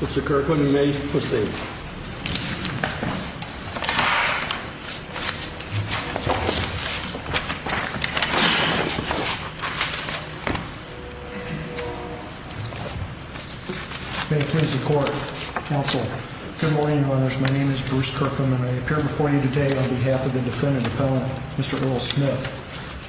Mr. Kirkland, you may proceed. May it please the court. Counsel. Good morning, my name is Bruce Kirkland and I appear before you today on behalf of the defendant, Mr. Earl Smith.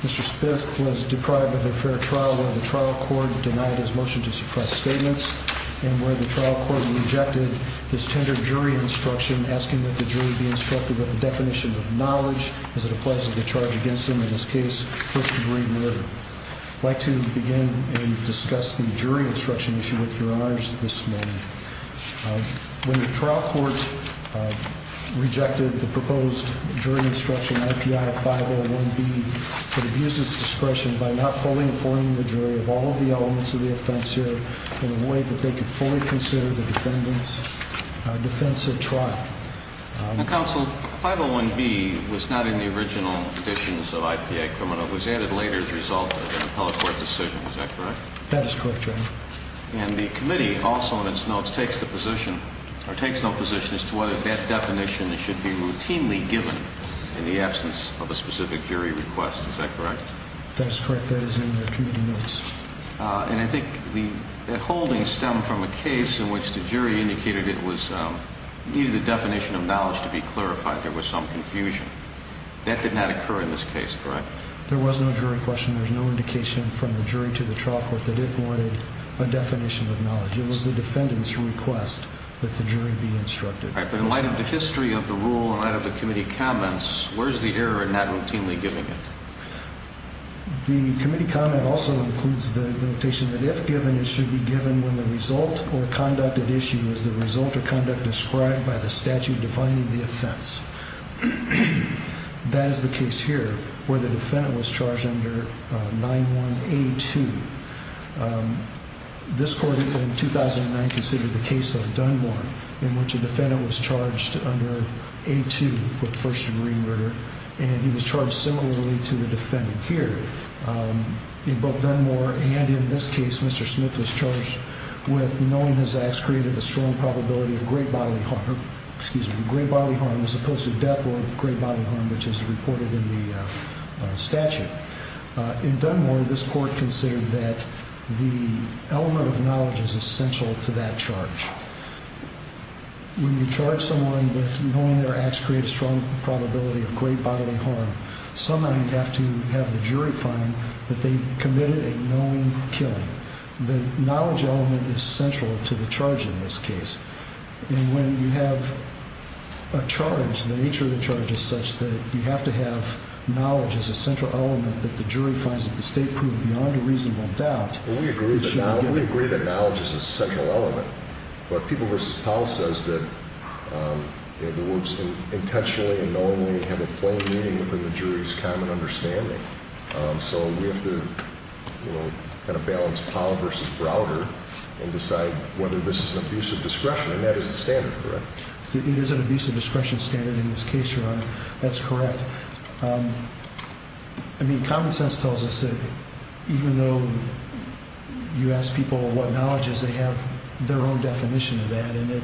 Mr. Smith was deprived of a fair trial where the trial court denied his motion to suppress statements and where the trial court rejected his tender jury instruction, asking that the jury be instructed with the definition of knowledge. As it applies to the charge against him in this case, first degree murder. I'd like to begin and discuss the jury instruction issue with your honors this morning. When the trial court rejected the proposed jury instruction, IPI 501B could abuse its discretion by not fully informing the jury of all of the elements of the offense here in a way that they could fully consider the defendant's defense at trial. Counsel, 501B was not in the original additions of IPI criminal was added later as a result of an appellate court decision. Is that correct? That is correct, your honor. And the committee also in its notes takes the position or takes no position as to whether that definition should be routinely given in the absence of a specific jury request. Is that correct? That is correct. That is in the committee notes. And I think the holdings stem from a case in which the jury indicated it was needed a definition of knowledge to be clarified. There was some confusion that did not occur in this case, correct? There was no jury question. There's no indication from the jury to the trial court that it wanted a definition of knowledge. It was the defendant's request that the jury be instructed. All right. But in light of the history of the rule and that of the committee comments, where's the error in that routinely giving it? The committee comment also includes the notation that if given, it should be given when the result or conducted issue is the result of conduct described by the statute defining the offense. That is the case here where the defendant was charged under 9182. This court in 2009 considered the case of Dunmore in which a defendant was charged under 82 with first degree murder, and he was charged similarly to the defendant here. In both Dunmore and in this case, Mr. Smith was charged with knowing his acts created a strong probability of great bodily harm, excuse me, great bodily harm as opposed to death or great bodily harm, which is reported in the statute. In Dunmore, this court considered that the element of knowledge is essential to that charge. When you charge someone with knowing their acts create a strong probability of great bodily harm, sometimes you have to have the jury find that they committed a known killing. The knowledge element is central to the charge in this case. And when you have a charge, the nature of the charge is such that you have to have knowledge as a central element that the jury finds that the state proved beyond a reasonable doubt. We agree that knowledge is a central element, but People v. Powell says that the words intentionally and knowingly have a plain meaning within the jury's common understanding. So we have to kind of balance Powell v. Browder and decide whether this is an abuse of discretion, and that is the standard, correct? It is an abuse of discretion standard in this case, Your Honor. That's correct. I mean, common sense tells us that even though you ask people what knowledge is, they have their own definition of that. And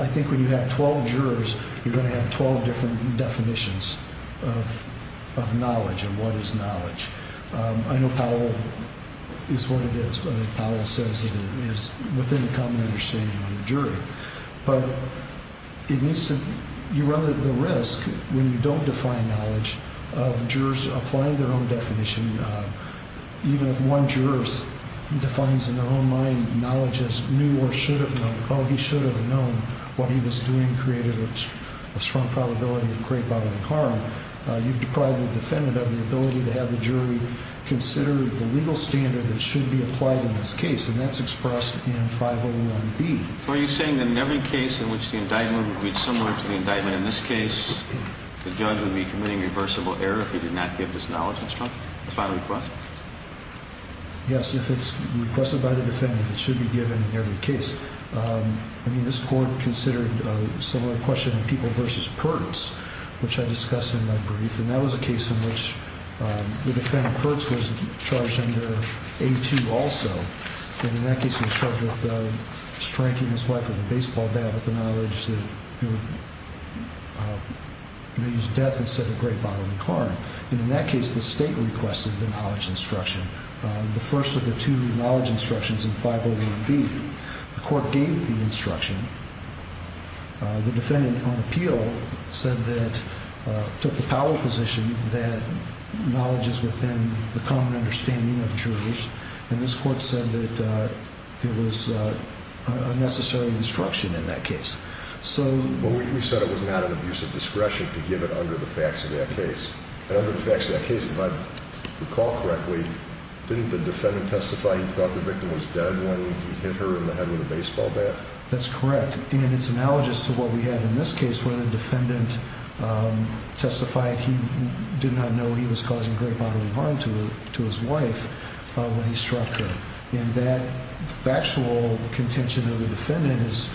I think when you have 12 jurors, you're going to have 12 different definitions of knowledge and what is knowledge. I know Powell is what it is. Powell says it is within the common understanding of the jury. But you run the risk when you don't define knowledge of jurors applying their own definition. Even if one juror defines in their own mind knowledge as knew or should have known, oh, he should have known what he was doing created a strong probability of great bodily harm, you've deprived the defendant of the ability to have the jury consider the legal standard that should be applied in this case. And that's expressed in 501B. So are you saying that in every case in which the indictment would be similar to the indictment in this case, the judge would be committing reversible error if he did not give this knowledge instruction by request? Yes, if it's requested by the defendant, it should be given in every case. I mean, this court considered a similar question in People v. Pertz, which I discussed in my brief. And that was a case in which the defendant, Pertz, was charged under A2 also. And in that case, he was charged with striking his wife with a baseball bat with the knowledge that he would use death instead of great bodily harm. And in that case, the state requested the knowledge instruction. The first of the two knowledge instructions in 501B, the court gave the instruction. The defendant on appeal said that, took the power position that knowledge is within the common understanding of jurors. And this court said that it was unnecessary instruction in that case. But we said it was not an abuse of discretion to give it under the facts of that case. And under the facts of that case, if I recall correctly, didn't the defendant testify he thought the victim was dead when he hit her in the head with a baseball bat? That's correct. And it's analogous to what we have in this case where the defendant testified he did not know he was causing great bodily harm to his wife when he struck her. And that factual contention of the defendant is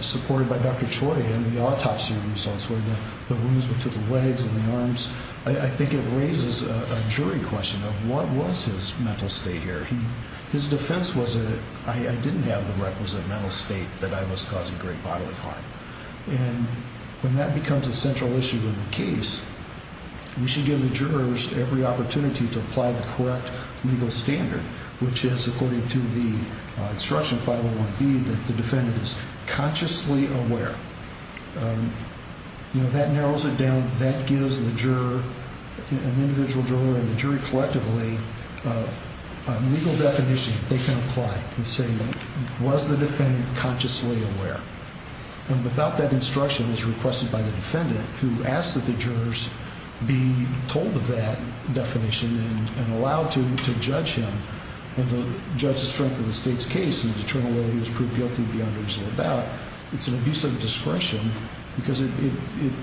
supported by Dr. Choi and the autopsy results where the wounds were to the legs and the arms. I think it raises a jury question of what was his mental state here. His defense was, I didn't have the requisite mental state that I was causing great bodily harm. And when that becomes a central issue in the case, we should give the jurors every opportunity to apply the correct legal standard, which is according to the instruction 501B that the defendant is consciously aware. That narrows it down. That gives the juror, an individual juror and the jury collectively, a legal definition that they can apply and say, was the defendant consciously aware? And without that instruction as requested by the defendant who asked that the jurors be told of that definition and allowed to judge him and to judge the strength of the state's case and to determine whether he was proved guilty beyond a reasonable doubt, it's an abuse of discretion because it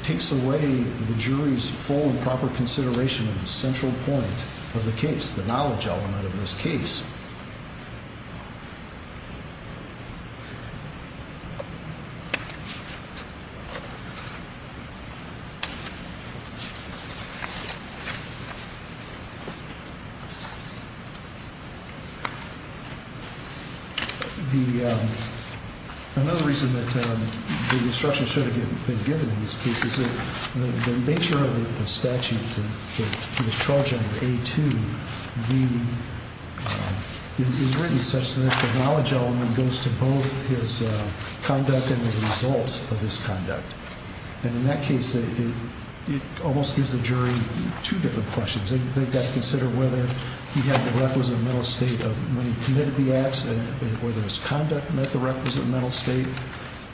takes away the jury's full and proper consideration of the central point of the case, the knowledge element of this case. The other reason that the instruction should have been given in this case is that the nature of the statute that he was charged under, A2V, is written such that the knowledge element goes to both his conductors and the jurors. And the jurors have to reflect on the results of his conduct. And in that case, it almost gives the jury two different questions. They've got to consider whether he had the requisite mental state of when he committed the accident, whether his conduct met the requisite mental state,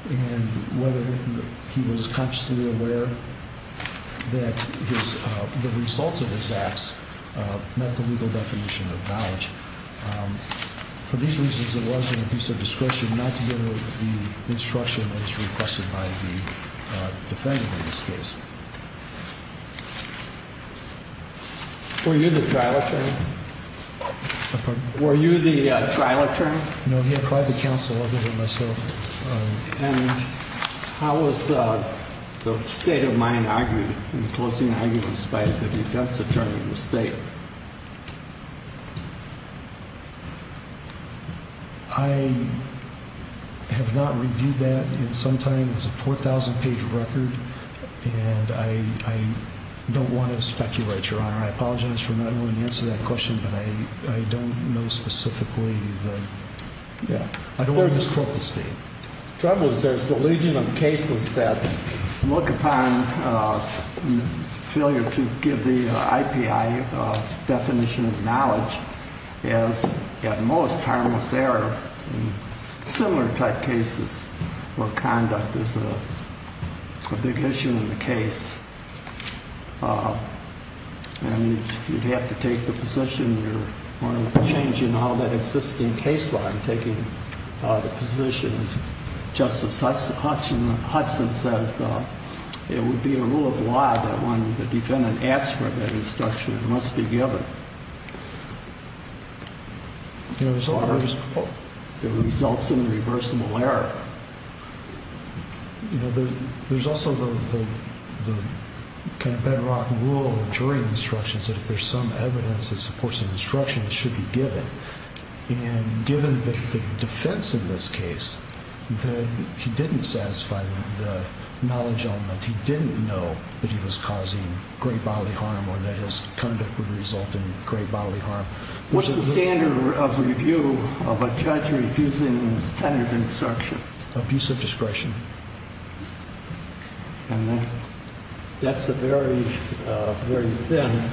and whether he was consciously aware that the results of his acts met the legal definition of knowledge. For these reasons, it was an abuse of discretion not to give the instruction as requested by the defendant in this case. Were you the trial attorney? No, he had private counsel, other than myself. And how was the state of mind argued in the closing arguments by the defense attorney in the state? I have not reviewed that in some time. It's a 4,000-page record. And I don't want to speculate, Your Honor. I apologize for not knowing the answer to that question, but I don't know specifically. The trouble is there's a legion of cases that look upon failure to give the IPI definition of knowledge as, at most, harmless error. Similar type cases where conduct is a big issue in the case. And you'd have to take the position you're wanting to change in all that existing case law. I'm taking the position that Justice Hudson says it would be a rule of law that when the defendant asks for that instruction, it must be given. You know, there's a lot of... It results in reversible error. You know, there's also the kind of bedrock rule of jury instructions that if there's some evidence that supports an instruction, it should be given. And given the defense in this case, that he didn't satisfy the knowledge element, he didn't know that he was causing great bodily harm or that his conduct would result in great bodily harm. What's the standard of review of a judge refusing a standard instruction? Abuse of discretion. And that's a very, very thin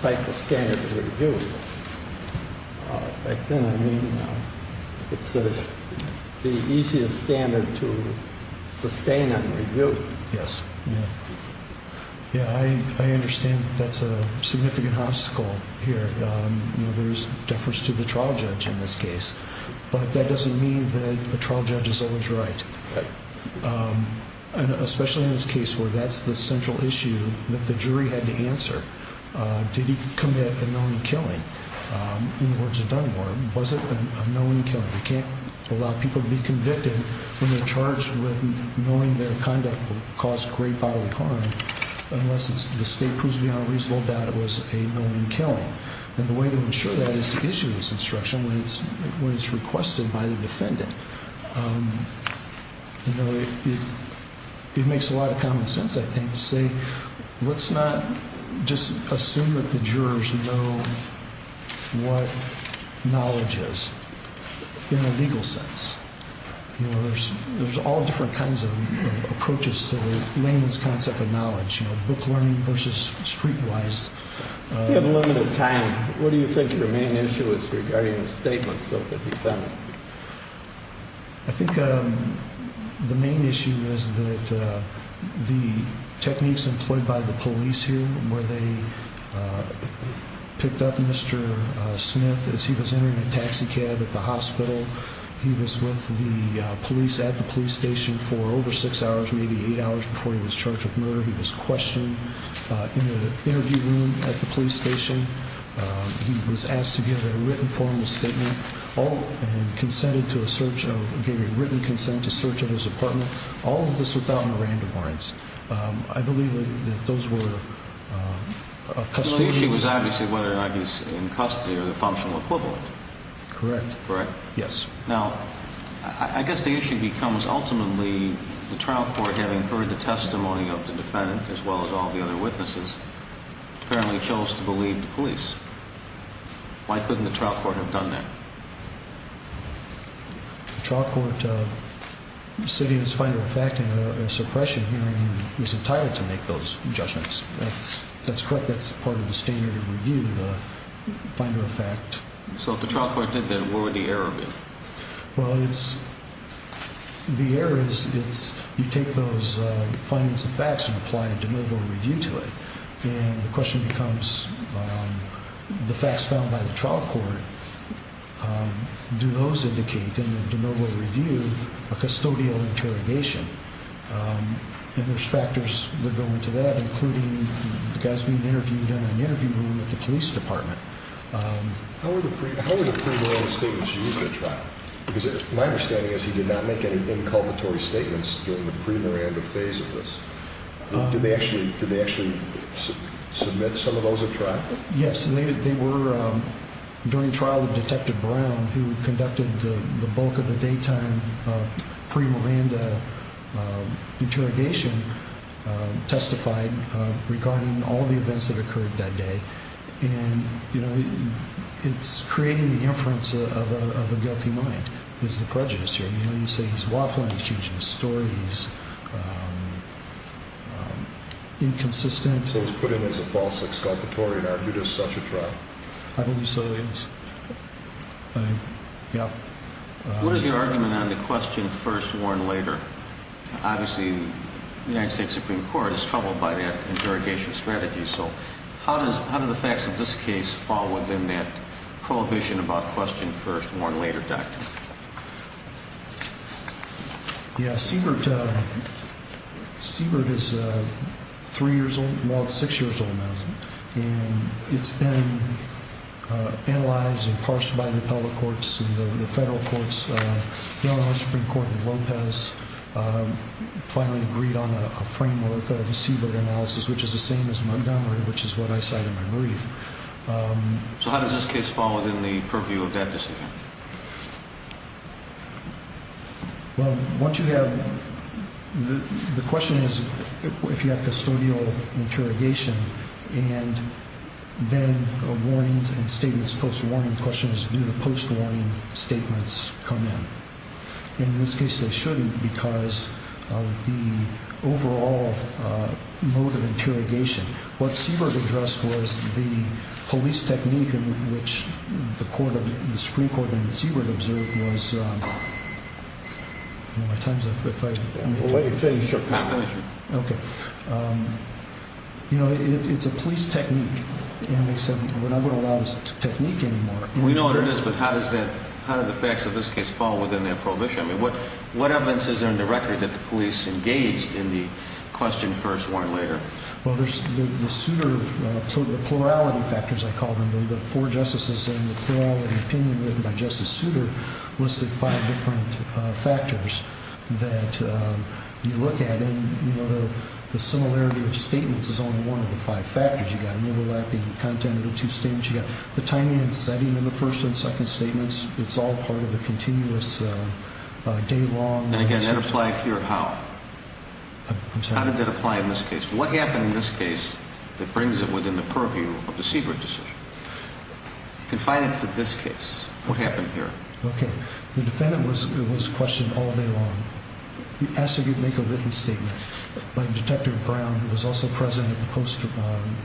type of standard of review. By thin, I mean it's the easiest standard to sustain on review. Yes. Yeah, I understand that that's a significant obstacle here. You know, there's deference to the trial judge in this case, but that doesn't mean that the trial judge is always right. And especially in this case where that's the central issue that the jury had to answer. Did he commit a known killing? In the words of Dunmore, was it a known killing? You can't allow people to be convicted when they're charged with knowing their conduct will cause great bodily harm unless the state proves beyond a reasonable doubt it was a known killing. And the way to ensure that is to issue this instruction when it's requested by the defendant. You know, it makes a lot of common sense, I think, to say let's not just assume that the jurors know what knowledge is in a legal sense. You know, there's all different kinds of approaches to the layman's concept of knowledge, you know, book learning versus street wise. We have limited time. What do you think your main issue is regarding the statements of the defendant? I think the main issue is that the techniques employed by the police here where they picked up Mr. Smith as he was entering a taxi cab at the hospital. He was with the police at the police station for over six hours, maybe eight hours before he was charged with murder. He was questioned in an interview room at the police station. He was asked to give a written formal statement and consented to a search. He gave a written consent to search of his apartment. All of this without any random warrants. I believe that those were a custody issue. So the issue was obviously whether or not he's in custody or the functional equivalent. Correct. Correct? Yes. Now, I guess the issue becomes ultimately the trial court having heard the testimony of the defendant as well as all the other witnesses apparently chose to believe the police. Why couldn't the trial court have done that? The trial court said in its final fact in a suppression hearing he was entitled to make those judgments. That's correct. That's part of the standard of review, the final fact. So if the trial court did that, what would the error be? Well, the error is you take those findings and facts and apply a de novo review to it. And the question becomes the facts found by the trial court, do those indicate in the de novo review a custodial interrogation? And there's factors that go into that, including the guys being interviewed in an interview room at the police department. How were the pre-Miranda statements used at trial? Because my understanding is he did not make any inculpatory statements during the pre-Miranda phase of this. Did they actually submit some of those at trial? Yes. They were during trial that Detective Brown, who conducted the bulk of the daytime pre-Miranda interrogation, testified regarding all the events that occurred that day. And, you know, it's creating the inference of a guilty mind is the prejudice here. I mean, when you say he's waffling, he's changing his story, he's inconsistent. So he was put in as a false exculpatory and argued as such at trial. I believe so, yes. What is your argument on the question first warned later? Obviously, the United States Supreme Court is troubled by that interrogation strategy. So how do the facts of this case fall within that prohibition about question first warned later doctrine? Yeah, Siebert is three years old, more like six years old now. And it's been analyzed and parsed by the public courts and the federal courts. You know, the Supreme Court in Lopez finally agreed on a framework of a Siebert analysis, which is the same as Montgomery, which is what I cite in my brief. So how does this case fall within the purview of that decision? Well, once you have the question is if you have custodial interrogation and then warnings and statements, post-warning questions, do the post-warning statements come in? In this case, they shouldn't because of the overall mode of interrogation. What Siebert addressed was the police technique in which the Supreme Court and Siebert observed was a police technique. And they said we're not going to allow this technique anymore. We know what it is, but how do the facts of this case fall within that prohibition? I mean, what evidence is there in the record that the police engaged in the question first warned later? Well, there's the suitor, the plurality factors, I call them. The four justices and the plurality opinion written by Justice Suter listed five different factors that you look at. And, you know, the similarity of statements is only one of the five factors. You've got an overlapping content of the two statements. You've got the timing and setting of the first and second statements. It's all part of the continuous day-long. And again, did that apply here or how? I'm sorry? How did that apply in this case? What happened in this case that brings it within the purview of the Siebert decision? Confine it to this case. What happened here? Okay. The defendant was questioned all day long. He asked that he make a written statement. But Detective Brown, who was also present at the poster bomb,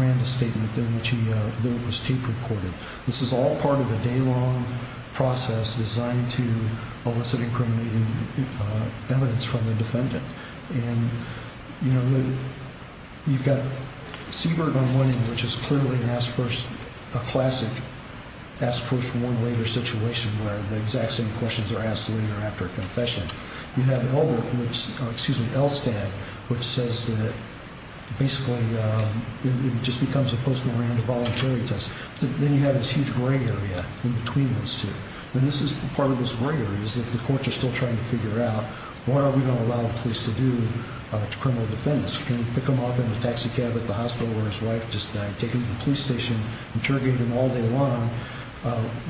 ran the statement, then it was tape recorded. This is all part of a day-long process designed to elicit incriminating evidence from the defendant. And, you know, you've got Siebert on one end, which is clearly a classic ask first, warn later situation, where the exact same questions are asked later after a confession. You have Elbert, excuse me, Elstad, which says that basically it just becomes a post-morandum voluntary test. Then you have this huge gray area in between those two. And this is part of this gray area is that the courts are still trying to figure out what are we going to allow the police to do to criminal defendants. You can pick them up in a taxi cab at the hospital where his wife just died, take them to the police station, interrogate them all day long,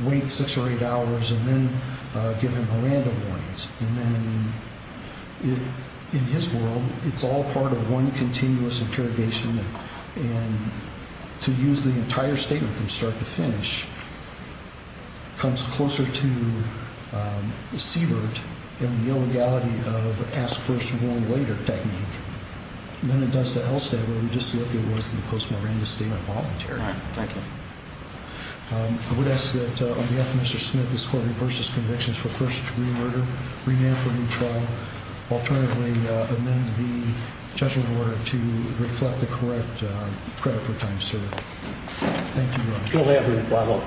wait six or eight hours, and then give them Miranda warnings. And then in his world, it's all part of one continuous interrogation. And to use the entire statement from start to finish comes closer to Siebert and the illegality of ask first, warn later technique than it does to Elstad, where we just see if it was a post-Miranda statement voluntary. All right. Thank you. I would ask that on behalf of Mr. Smith, this court reverses convictions for first degree murder, rename for new trial. Alternatively, amend the judgment order to reflect the correct credit for time served. Thank you.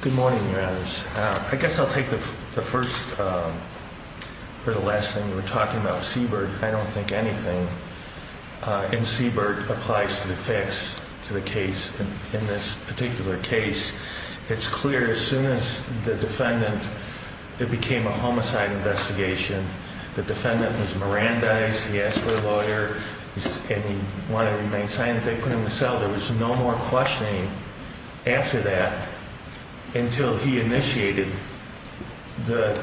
Good morning, your honors. I guess I'll take the first or the last thing you were talking about Siebert. I don't think anything in Siebert applies to the facts to the case. In this particular case, it's clear as soon as the defendant, it became a homicide investigation. The defendant was Miranda. He asked for a lawyer and he wanted to remain silent. There was no more questioning after that until he initiated the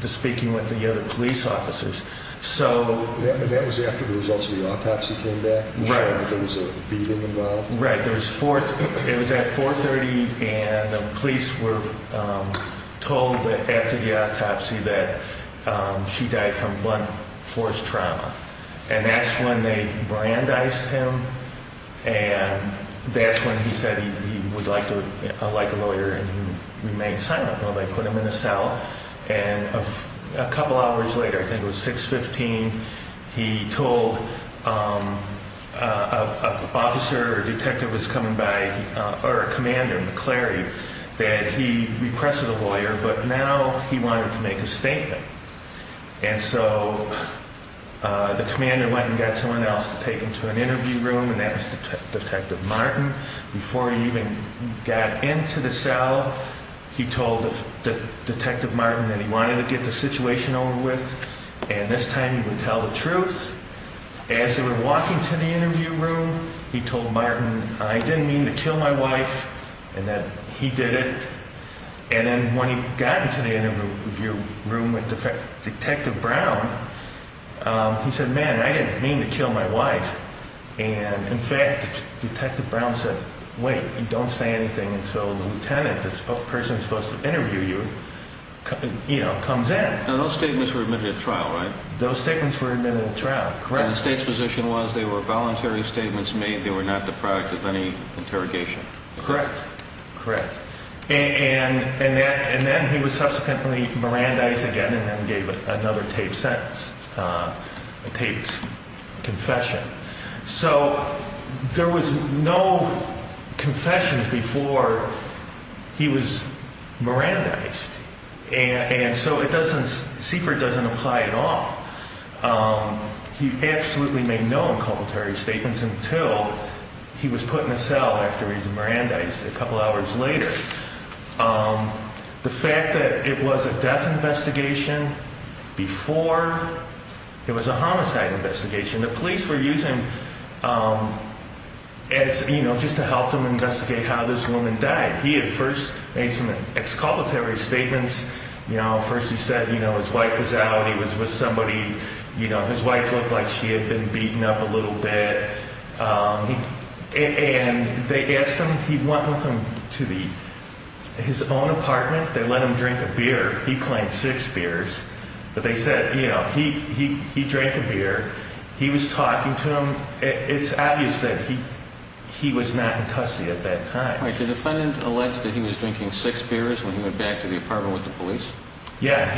speaking with the other police officers. So that was after the results of the autopsy came back. Right. There was a beating involved. Right. It was at 430 and the police were told that after the autopsy that she died from blunt force trauma. And that's when they brandized him. And that's when he said he would like to like a lawyer and remain silent. Well, they put him in a cell and a couple hours later, I think it was 615. He told an officer or detective was coming by or a commander, McCleary, that he requested a lawyer. But now he wanted to make a statement. And so the commander went and got someone else to take him to an interview room. And that was Detective Martin. Before he even got into the cell, he told Detective Martin that he wanted to get the situation over with. And this time he would tell the truth. As they were walking to the interview room, he told Martin, I didn't mean to kill my wife and that he did it. And then when he got into the interview room with Detective Brown, he said, man, I didn't mean to kill my wife. And in fact, Detective Brown said, wait, don't say anything until the lieutenant, the person who's supposed to interview you, comes in. Those statements were admitted to trial, right? Those statements were admitted to trial. Correct. And the state's position was they were voluntary statements made. They were not the product of any interrogation. Correct. Correct. And then he was subsequently Mirandized again and then gave another taped sentence, a taped confession. So there was no confessions before he was Mirandized. And so it doesn't, CFER doesn't apply at all. He absolutely made no inculpatory statements until he was put in a cell after he was Mirandized a couple hours later. The fact that it was a death investigation before it was a homicide investigation, the police were using as, you know, just to help them investigate how this woman died. He had first made some exculpatory statements. You know, first he said, you know, his wife was out. He was with somebody, you know, his wife looked like she had been beaten up a little bit. And they asked him, he went with him to the his own apartment. They let him drink a beer. He claimed six beers. But they said, you know, he he he drank a beer. He was talking to him. It's obvious that he he was not in custody at that time. All right. The defendant alleged that he was drinking six beers when he went back to the apartment with the police. Yeah.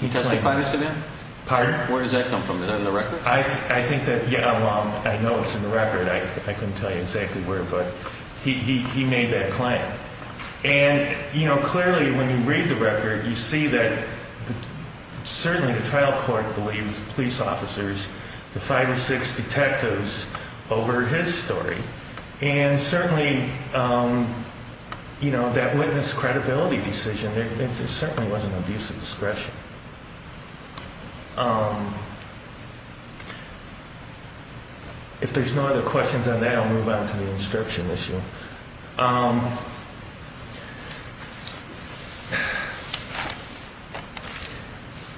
He testified to that. Pardon? Where does that come from? Is that in the record? I think that, yeah, I know it's in the record. I couldn't tell you exactly where, but he he he made that claim. And, you know, clearly when you read the record, you see that certainly the trial court believes police officers, the five or six detectives over his story. And certainly, you know, that witness credibility decision, there certainly was an abuse of discretion. If there's no other questions on that, I'll move on to the instruction issue.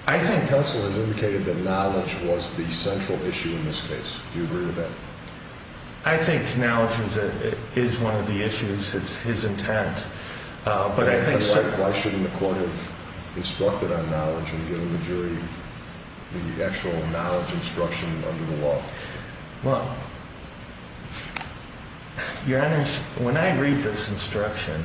I think counsel has indicated that knowledge was the central issue in this case. Do you agree with that? I think knowledge is one of the issues. It's his intent. But I think so. Why shouldn't the court have instructed on knowledge and given the jury the actual knowledge instruction under the law? Well, your honors, when I read this instruction,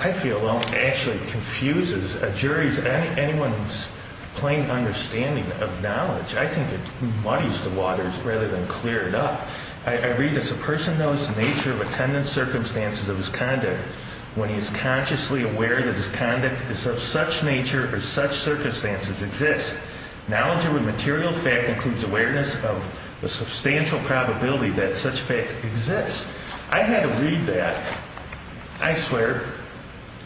I feel actually confuses a jury's anyone's plain understanding of knowledge. I think it muddies the waters rather than clear it up. I read this. A person knows the nature of attendant circumstances of his conduct when he is consciously aware that his conduct is of such nature or such circumstances exist. Knowledge of a material fact includes awareness of the substantial probability that such facts exist. I had to read that, I swear,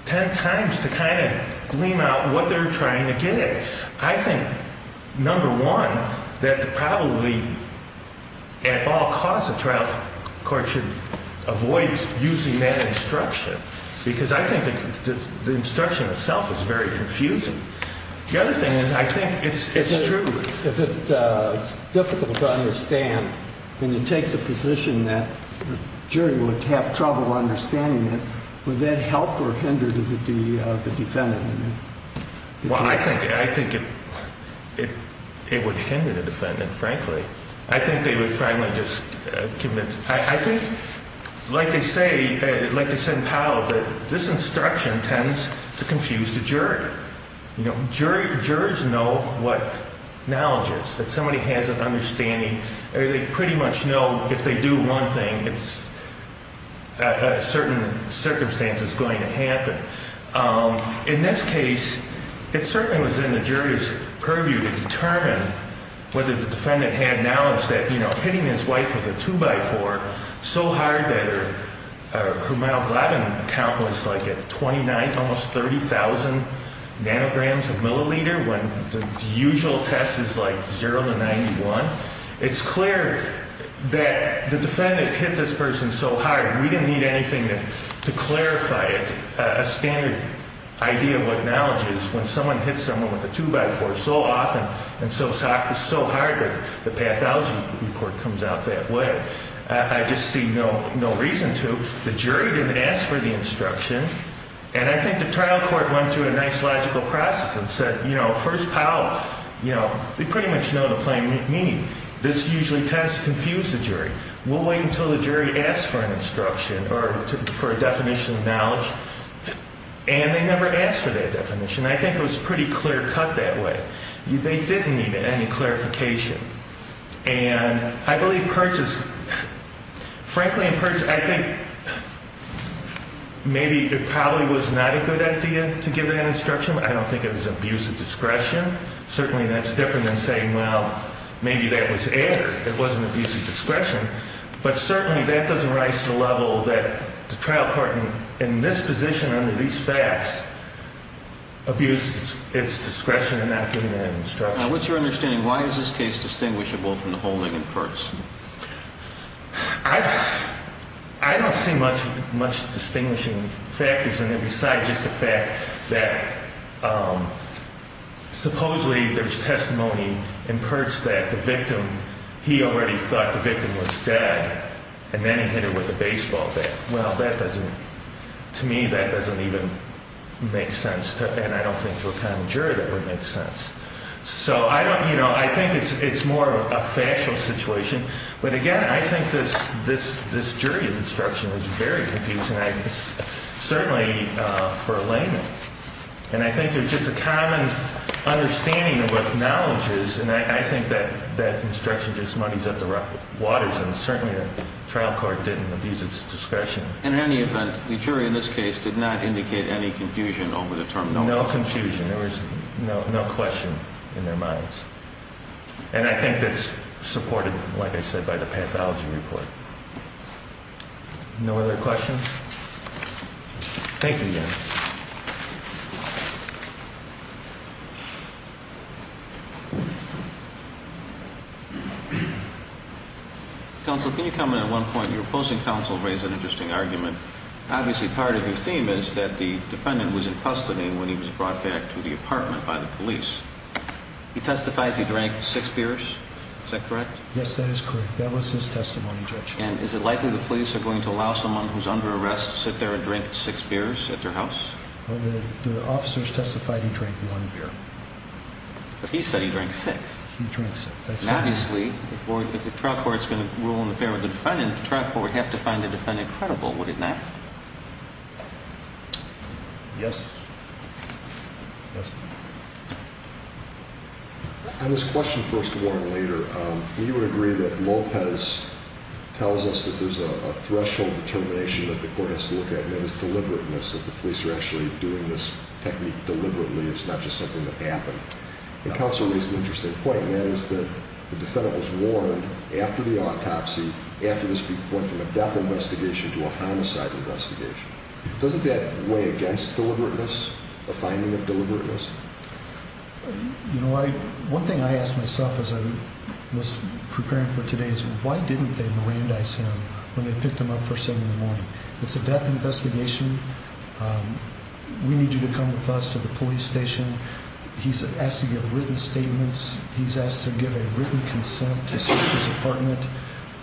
ten times to kind of glean out what they're trying to get at. I think, number one, that probably at all costs the trial court should avoid using that instruction because I think the instruction itself is very confusing. The other thing is I think it's true. If it's difficult to understand and you take the position that the jury would have trouble understanding it, would that help or hinder the defendant? Well, I think it would hinder the defendant, frankly. I think they would finally just commit to it. I think, like they say, like they said in Powell, that this instruction tends to confuse the jury. You know, jurors know what knowledge is, that somebody has an understanding. They pretty much know if they do one thing, a certain circumstance is going to happen. In this case, it certainly was in the jury's purview to determine whether the defendant had knowledge that, you know, hitting his wife with a 2x4 so hard that her hemoglobin count was like at 29, almost 30,000 nanograms a milliliter when the usual test is like 0 to 91. It's clear that the defendant hit this person so hard. We didn't need anything to clarify it. A standard idea of what knowledge is when someone hits someone with a 2x4 so often and so hard that the pathology report comes out that way. I just see no reason to. The jury didn't ask for the instruction. And I think the trial court went through a nice logical process and said, you know, first, Powell, you know, they pretty much know the plain meaning. This usually tends to confuse the jury. We'll wait until the jury asks for an instruction or for a definition of knowledge. And they never asked for that definition. I think it was pretty clear cut that way. They didn't need any clarification. And I believe Perch is, frankly, in Perch, I think maybe it probably was not a good idea to give that instruction. I don't think it was abusive discretion. Certainly that's different than saying, well, maybe that was air. It wasn't abusive discretion. But certainly that doesn't rise to the level that the trial court, in this position under these facts, abused its discretion in not giving that instruction. Now, what's your understanding? Why is this case distinguishable from the whole thing in Perch? I don't see much distinguishing factors in there besides just the fact that supposedly there's testimony in Perch that the victim, he already thought the victim was dead. And then he hit her with a baseball bat. Well, that doesn't, to me, that doesn't even make sense. And I don't think to a common jury that would make sense. So I think it's more of a factual situation. But again, I think this jury instruction is very confusing, certainly for a layman. And I think there's just a common understanding of what knowledge is. And I think that instruction just muddies up the waters. And certainly the trial court didn't abuse its discretion. In any event, the jury in this case did not indicate any confusion over the terminology. No confusion. There was no question in their minds. And I think that's supported, like I said, by the pathology report. No other questions? Thank you again. Counsel, can you comment on one point? Your opposing counsel raised an interesting argument. Obviously part of your theme is that the defendant was in custody when he was brought back to the apartment by the police. He testifies he drank six beers. Is that correct? Yes, that is correct. That was his testimony, Judge. And is it likely the police are going to allow someone who's under arrest to sit there and drink six beers at their house? Well, the officers testified he drank one beer. But he said he drank six. He drank six. Obviously, if the trial court is going to rule in favor of the defendant, the trial court would have to find the defendant credible, would it not? Yes. On this question, first of all, and later, you would agree that Lopez tells us that there's a threshold determination that the court has to look at, and that is deliberateness, that the police are actually doing this technique deliberately. It's not just something that happened. Counsel raised an interesting point, and that is that the defendant was warned after the autopsy, after this went from a death investigation to a homicide investigation. Doesn't that weigh against deliberateness, a finding of deliberateness? One thing I ask myself as I was preparing for today is why didn't they Mirandize him when they picked him up first thing in the morning? It's a death investigation. We need you to come with us to the police station. He's asked to give written statements. He's asked to give a written consent to search his apartment.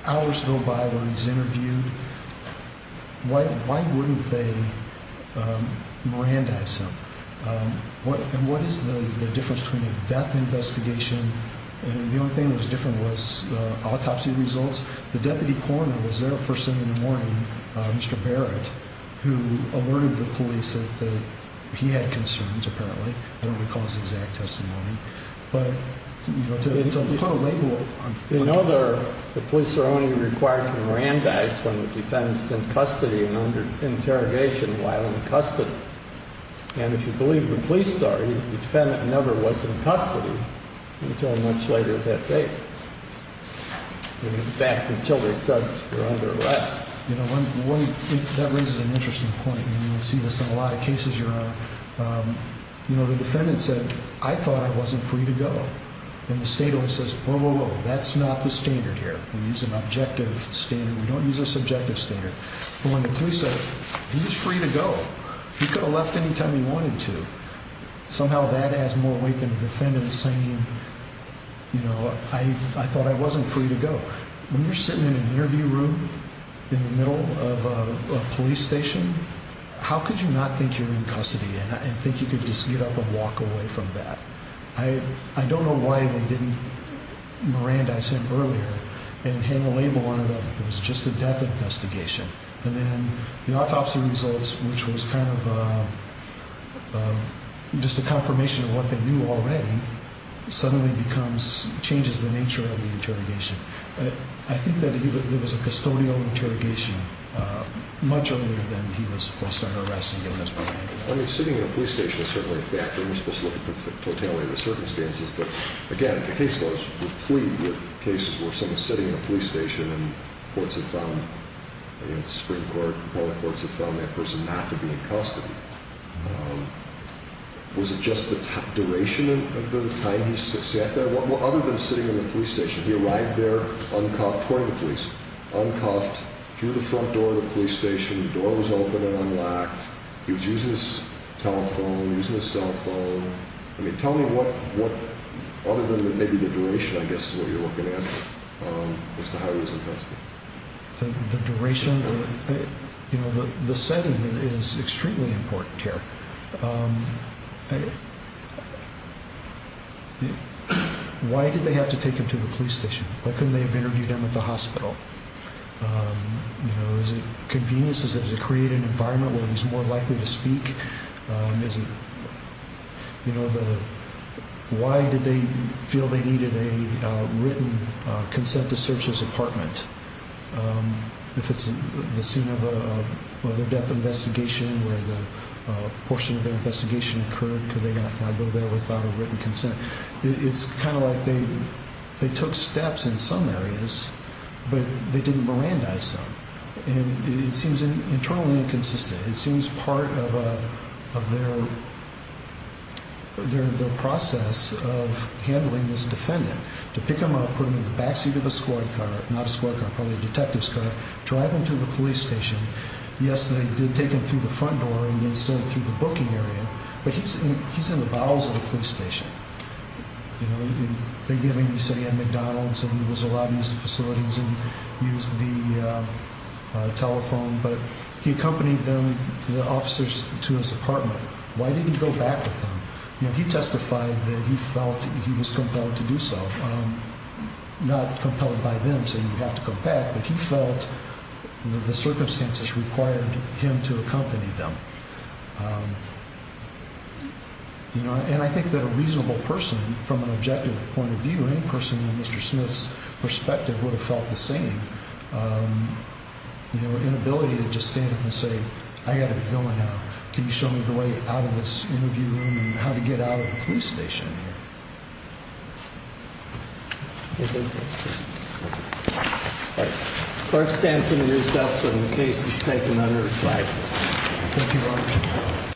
Hours go by where he's interviewed. Why wouldn't they Mirandize him? And what is the difference between a death investigation and the only thing that was different was autopsy results? The deputy coroner was there first thing in the morning, Mr. Barrett, who alerted the police that he had concerns, apparently. I don't recall his exact testimony. But, you know, to kind of label it. You know the police are only required to Mirandize when the defendant's in custody and under interrogation while in custody. And if you believe the police story, the defendant never was in custody until much later that day. In fact, until they said he was under arrest. You know, that raises an interesting point. And you see this in a lot of cases, Your Honor. You know, the defendant said, I thought I wasn't free to go. And the state always says, whoa, whoa, whoa. That's not the standard here. We use an objective standard. We don't use a subjective standard. But when the police said he was free to go, he could have left anytime he wanted to. Somehow that adds more weight than the defendant saying, you know, I thought I wasn't free to go. When you're sitting in an interview room in the middle of a police station, how could you not think you're in custody and think you could just get up and walk away from that? I don't know why they didn't Mirandize him earlier and hang a label on it of it was just a death investigation. And then the autopsy results, which was kind of just a confirmation of what they knew already, suddenly becomes changes the nature of the interrogation. I think that it was a custodial interrogation much earlier than he was supposed to be arrested. I mean, sitting in a police station is certainly a factor. We're supposed to look at the totality of the circumstances. But again, the case was a plea with cases where someone sitting in a police station and courts have found the Supreme Court, public courts have found that person not to be in custody. Was it just the duration of the time he sat there? Well, other than sitting in the police station, he arrived there, uncuffed, according to police, uncuffed through the front door of the police station. The door was open and unlocked. He was using his telephone, using his cell phone. I mean, tell me what other than maybe the duration, I guess, is what you're looking at. The duration. You know, the setting is extremely important here. Why did they have to take him to the police station? Why couldn't they have interviewed him at the hospital? You know, is it convenience? Is it to create an environment where he's more likely to speak? You know, why did they feel they needed a written consent to search his apartment? If it's the scene of a death investigation where the portion of their investigation occurred, could they not go there without a written consent? It's kind of like they took steps in some areas, but they didn't mirandize them. And it seems internally inconsistent. It seems part of their process of handling this defendant, to pick him up, put him in the back seat of a squad car, not a squad car, probably a detective's car, drive him to the police station. Yes, they did take him through the front door and insert him through the booking area. But he's in the bowels of the police station. You know, they gave him, he said he had McDonald's and he was allowed to use the facilities and use the telephone. But he accompanied them, the officers, to his apartment. Why didn't he go back with them? You know, he testified that he felt he was compelled to do so. Not compelled by them saying you have to go back, but he felt the circumstances required him to accompany them. You know, and I think that a reasonable person from an objective point of view, in person, Mr. Smith's perspective would have felt the same. You know, inability to just stand up and say, I got to be going now. Can you show me the way out of this interview room and how to get out of the police station? All right. Clark stands in recess and the case is taken under recess.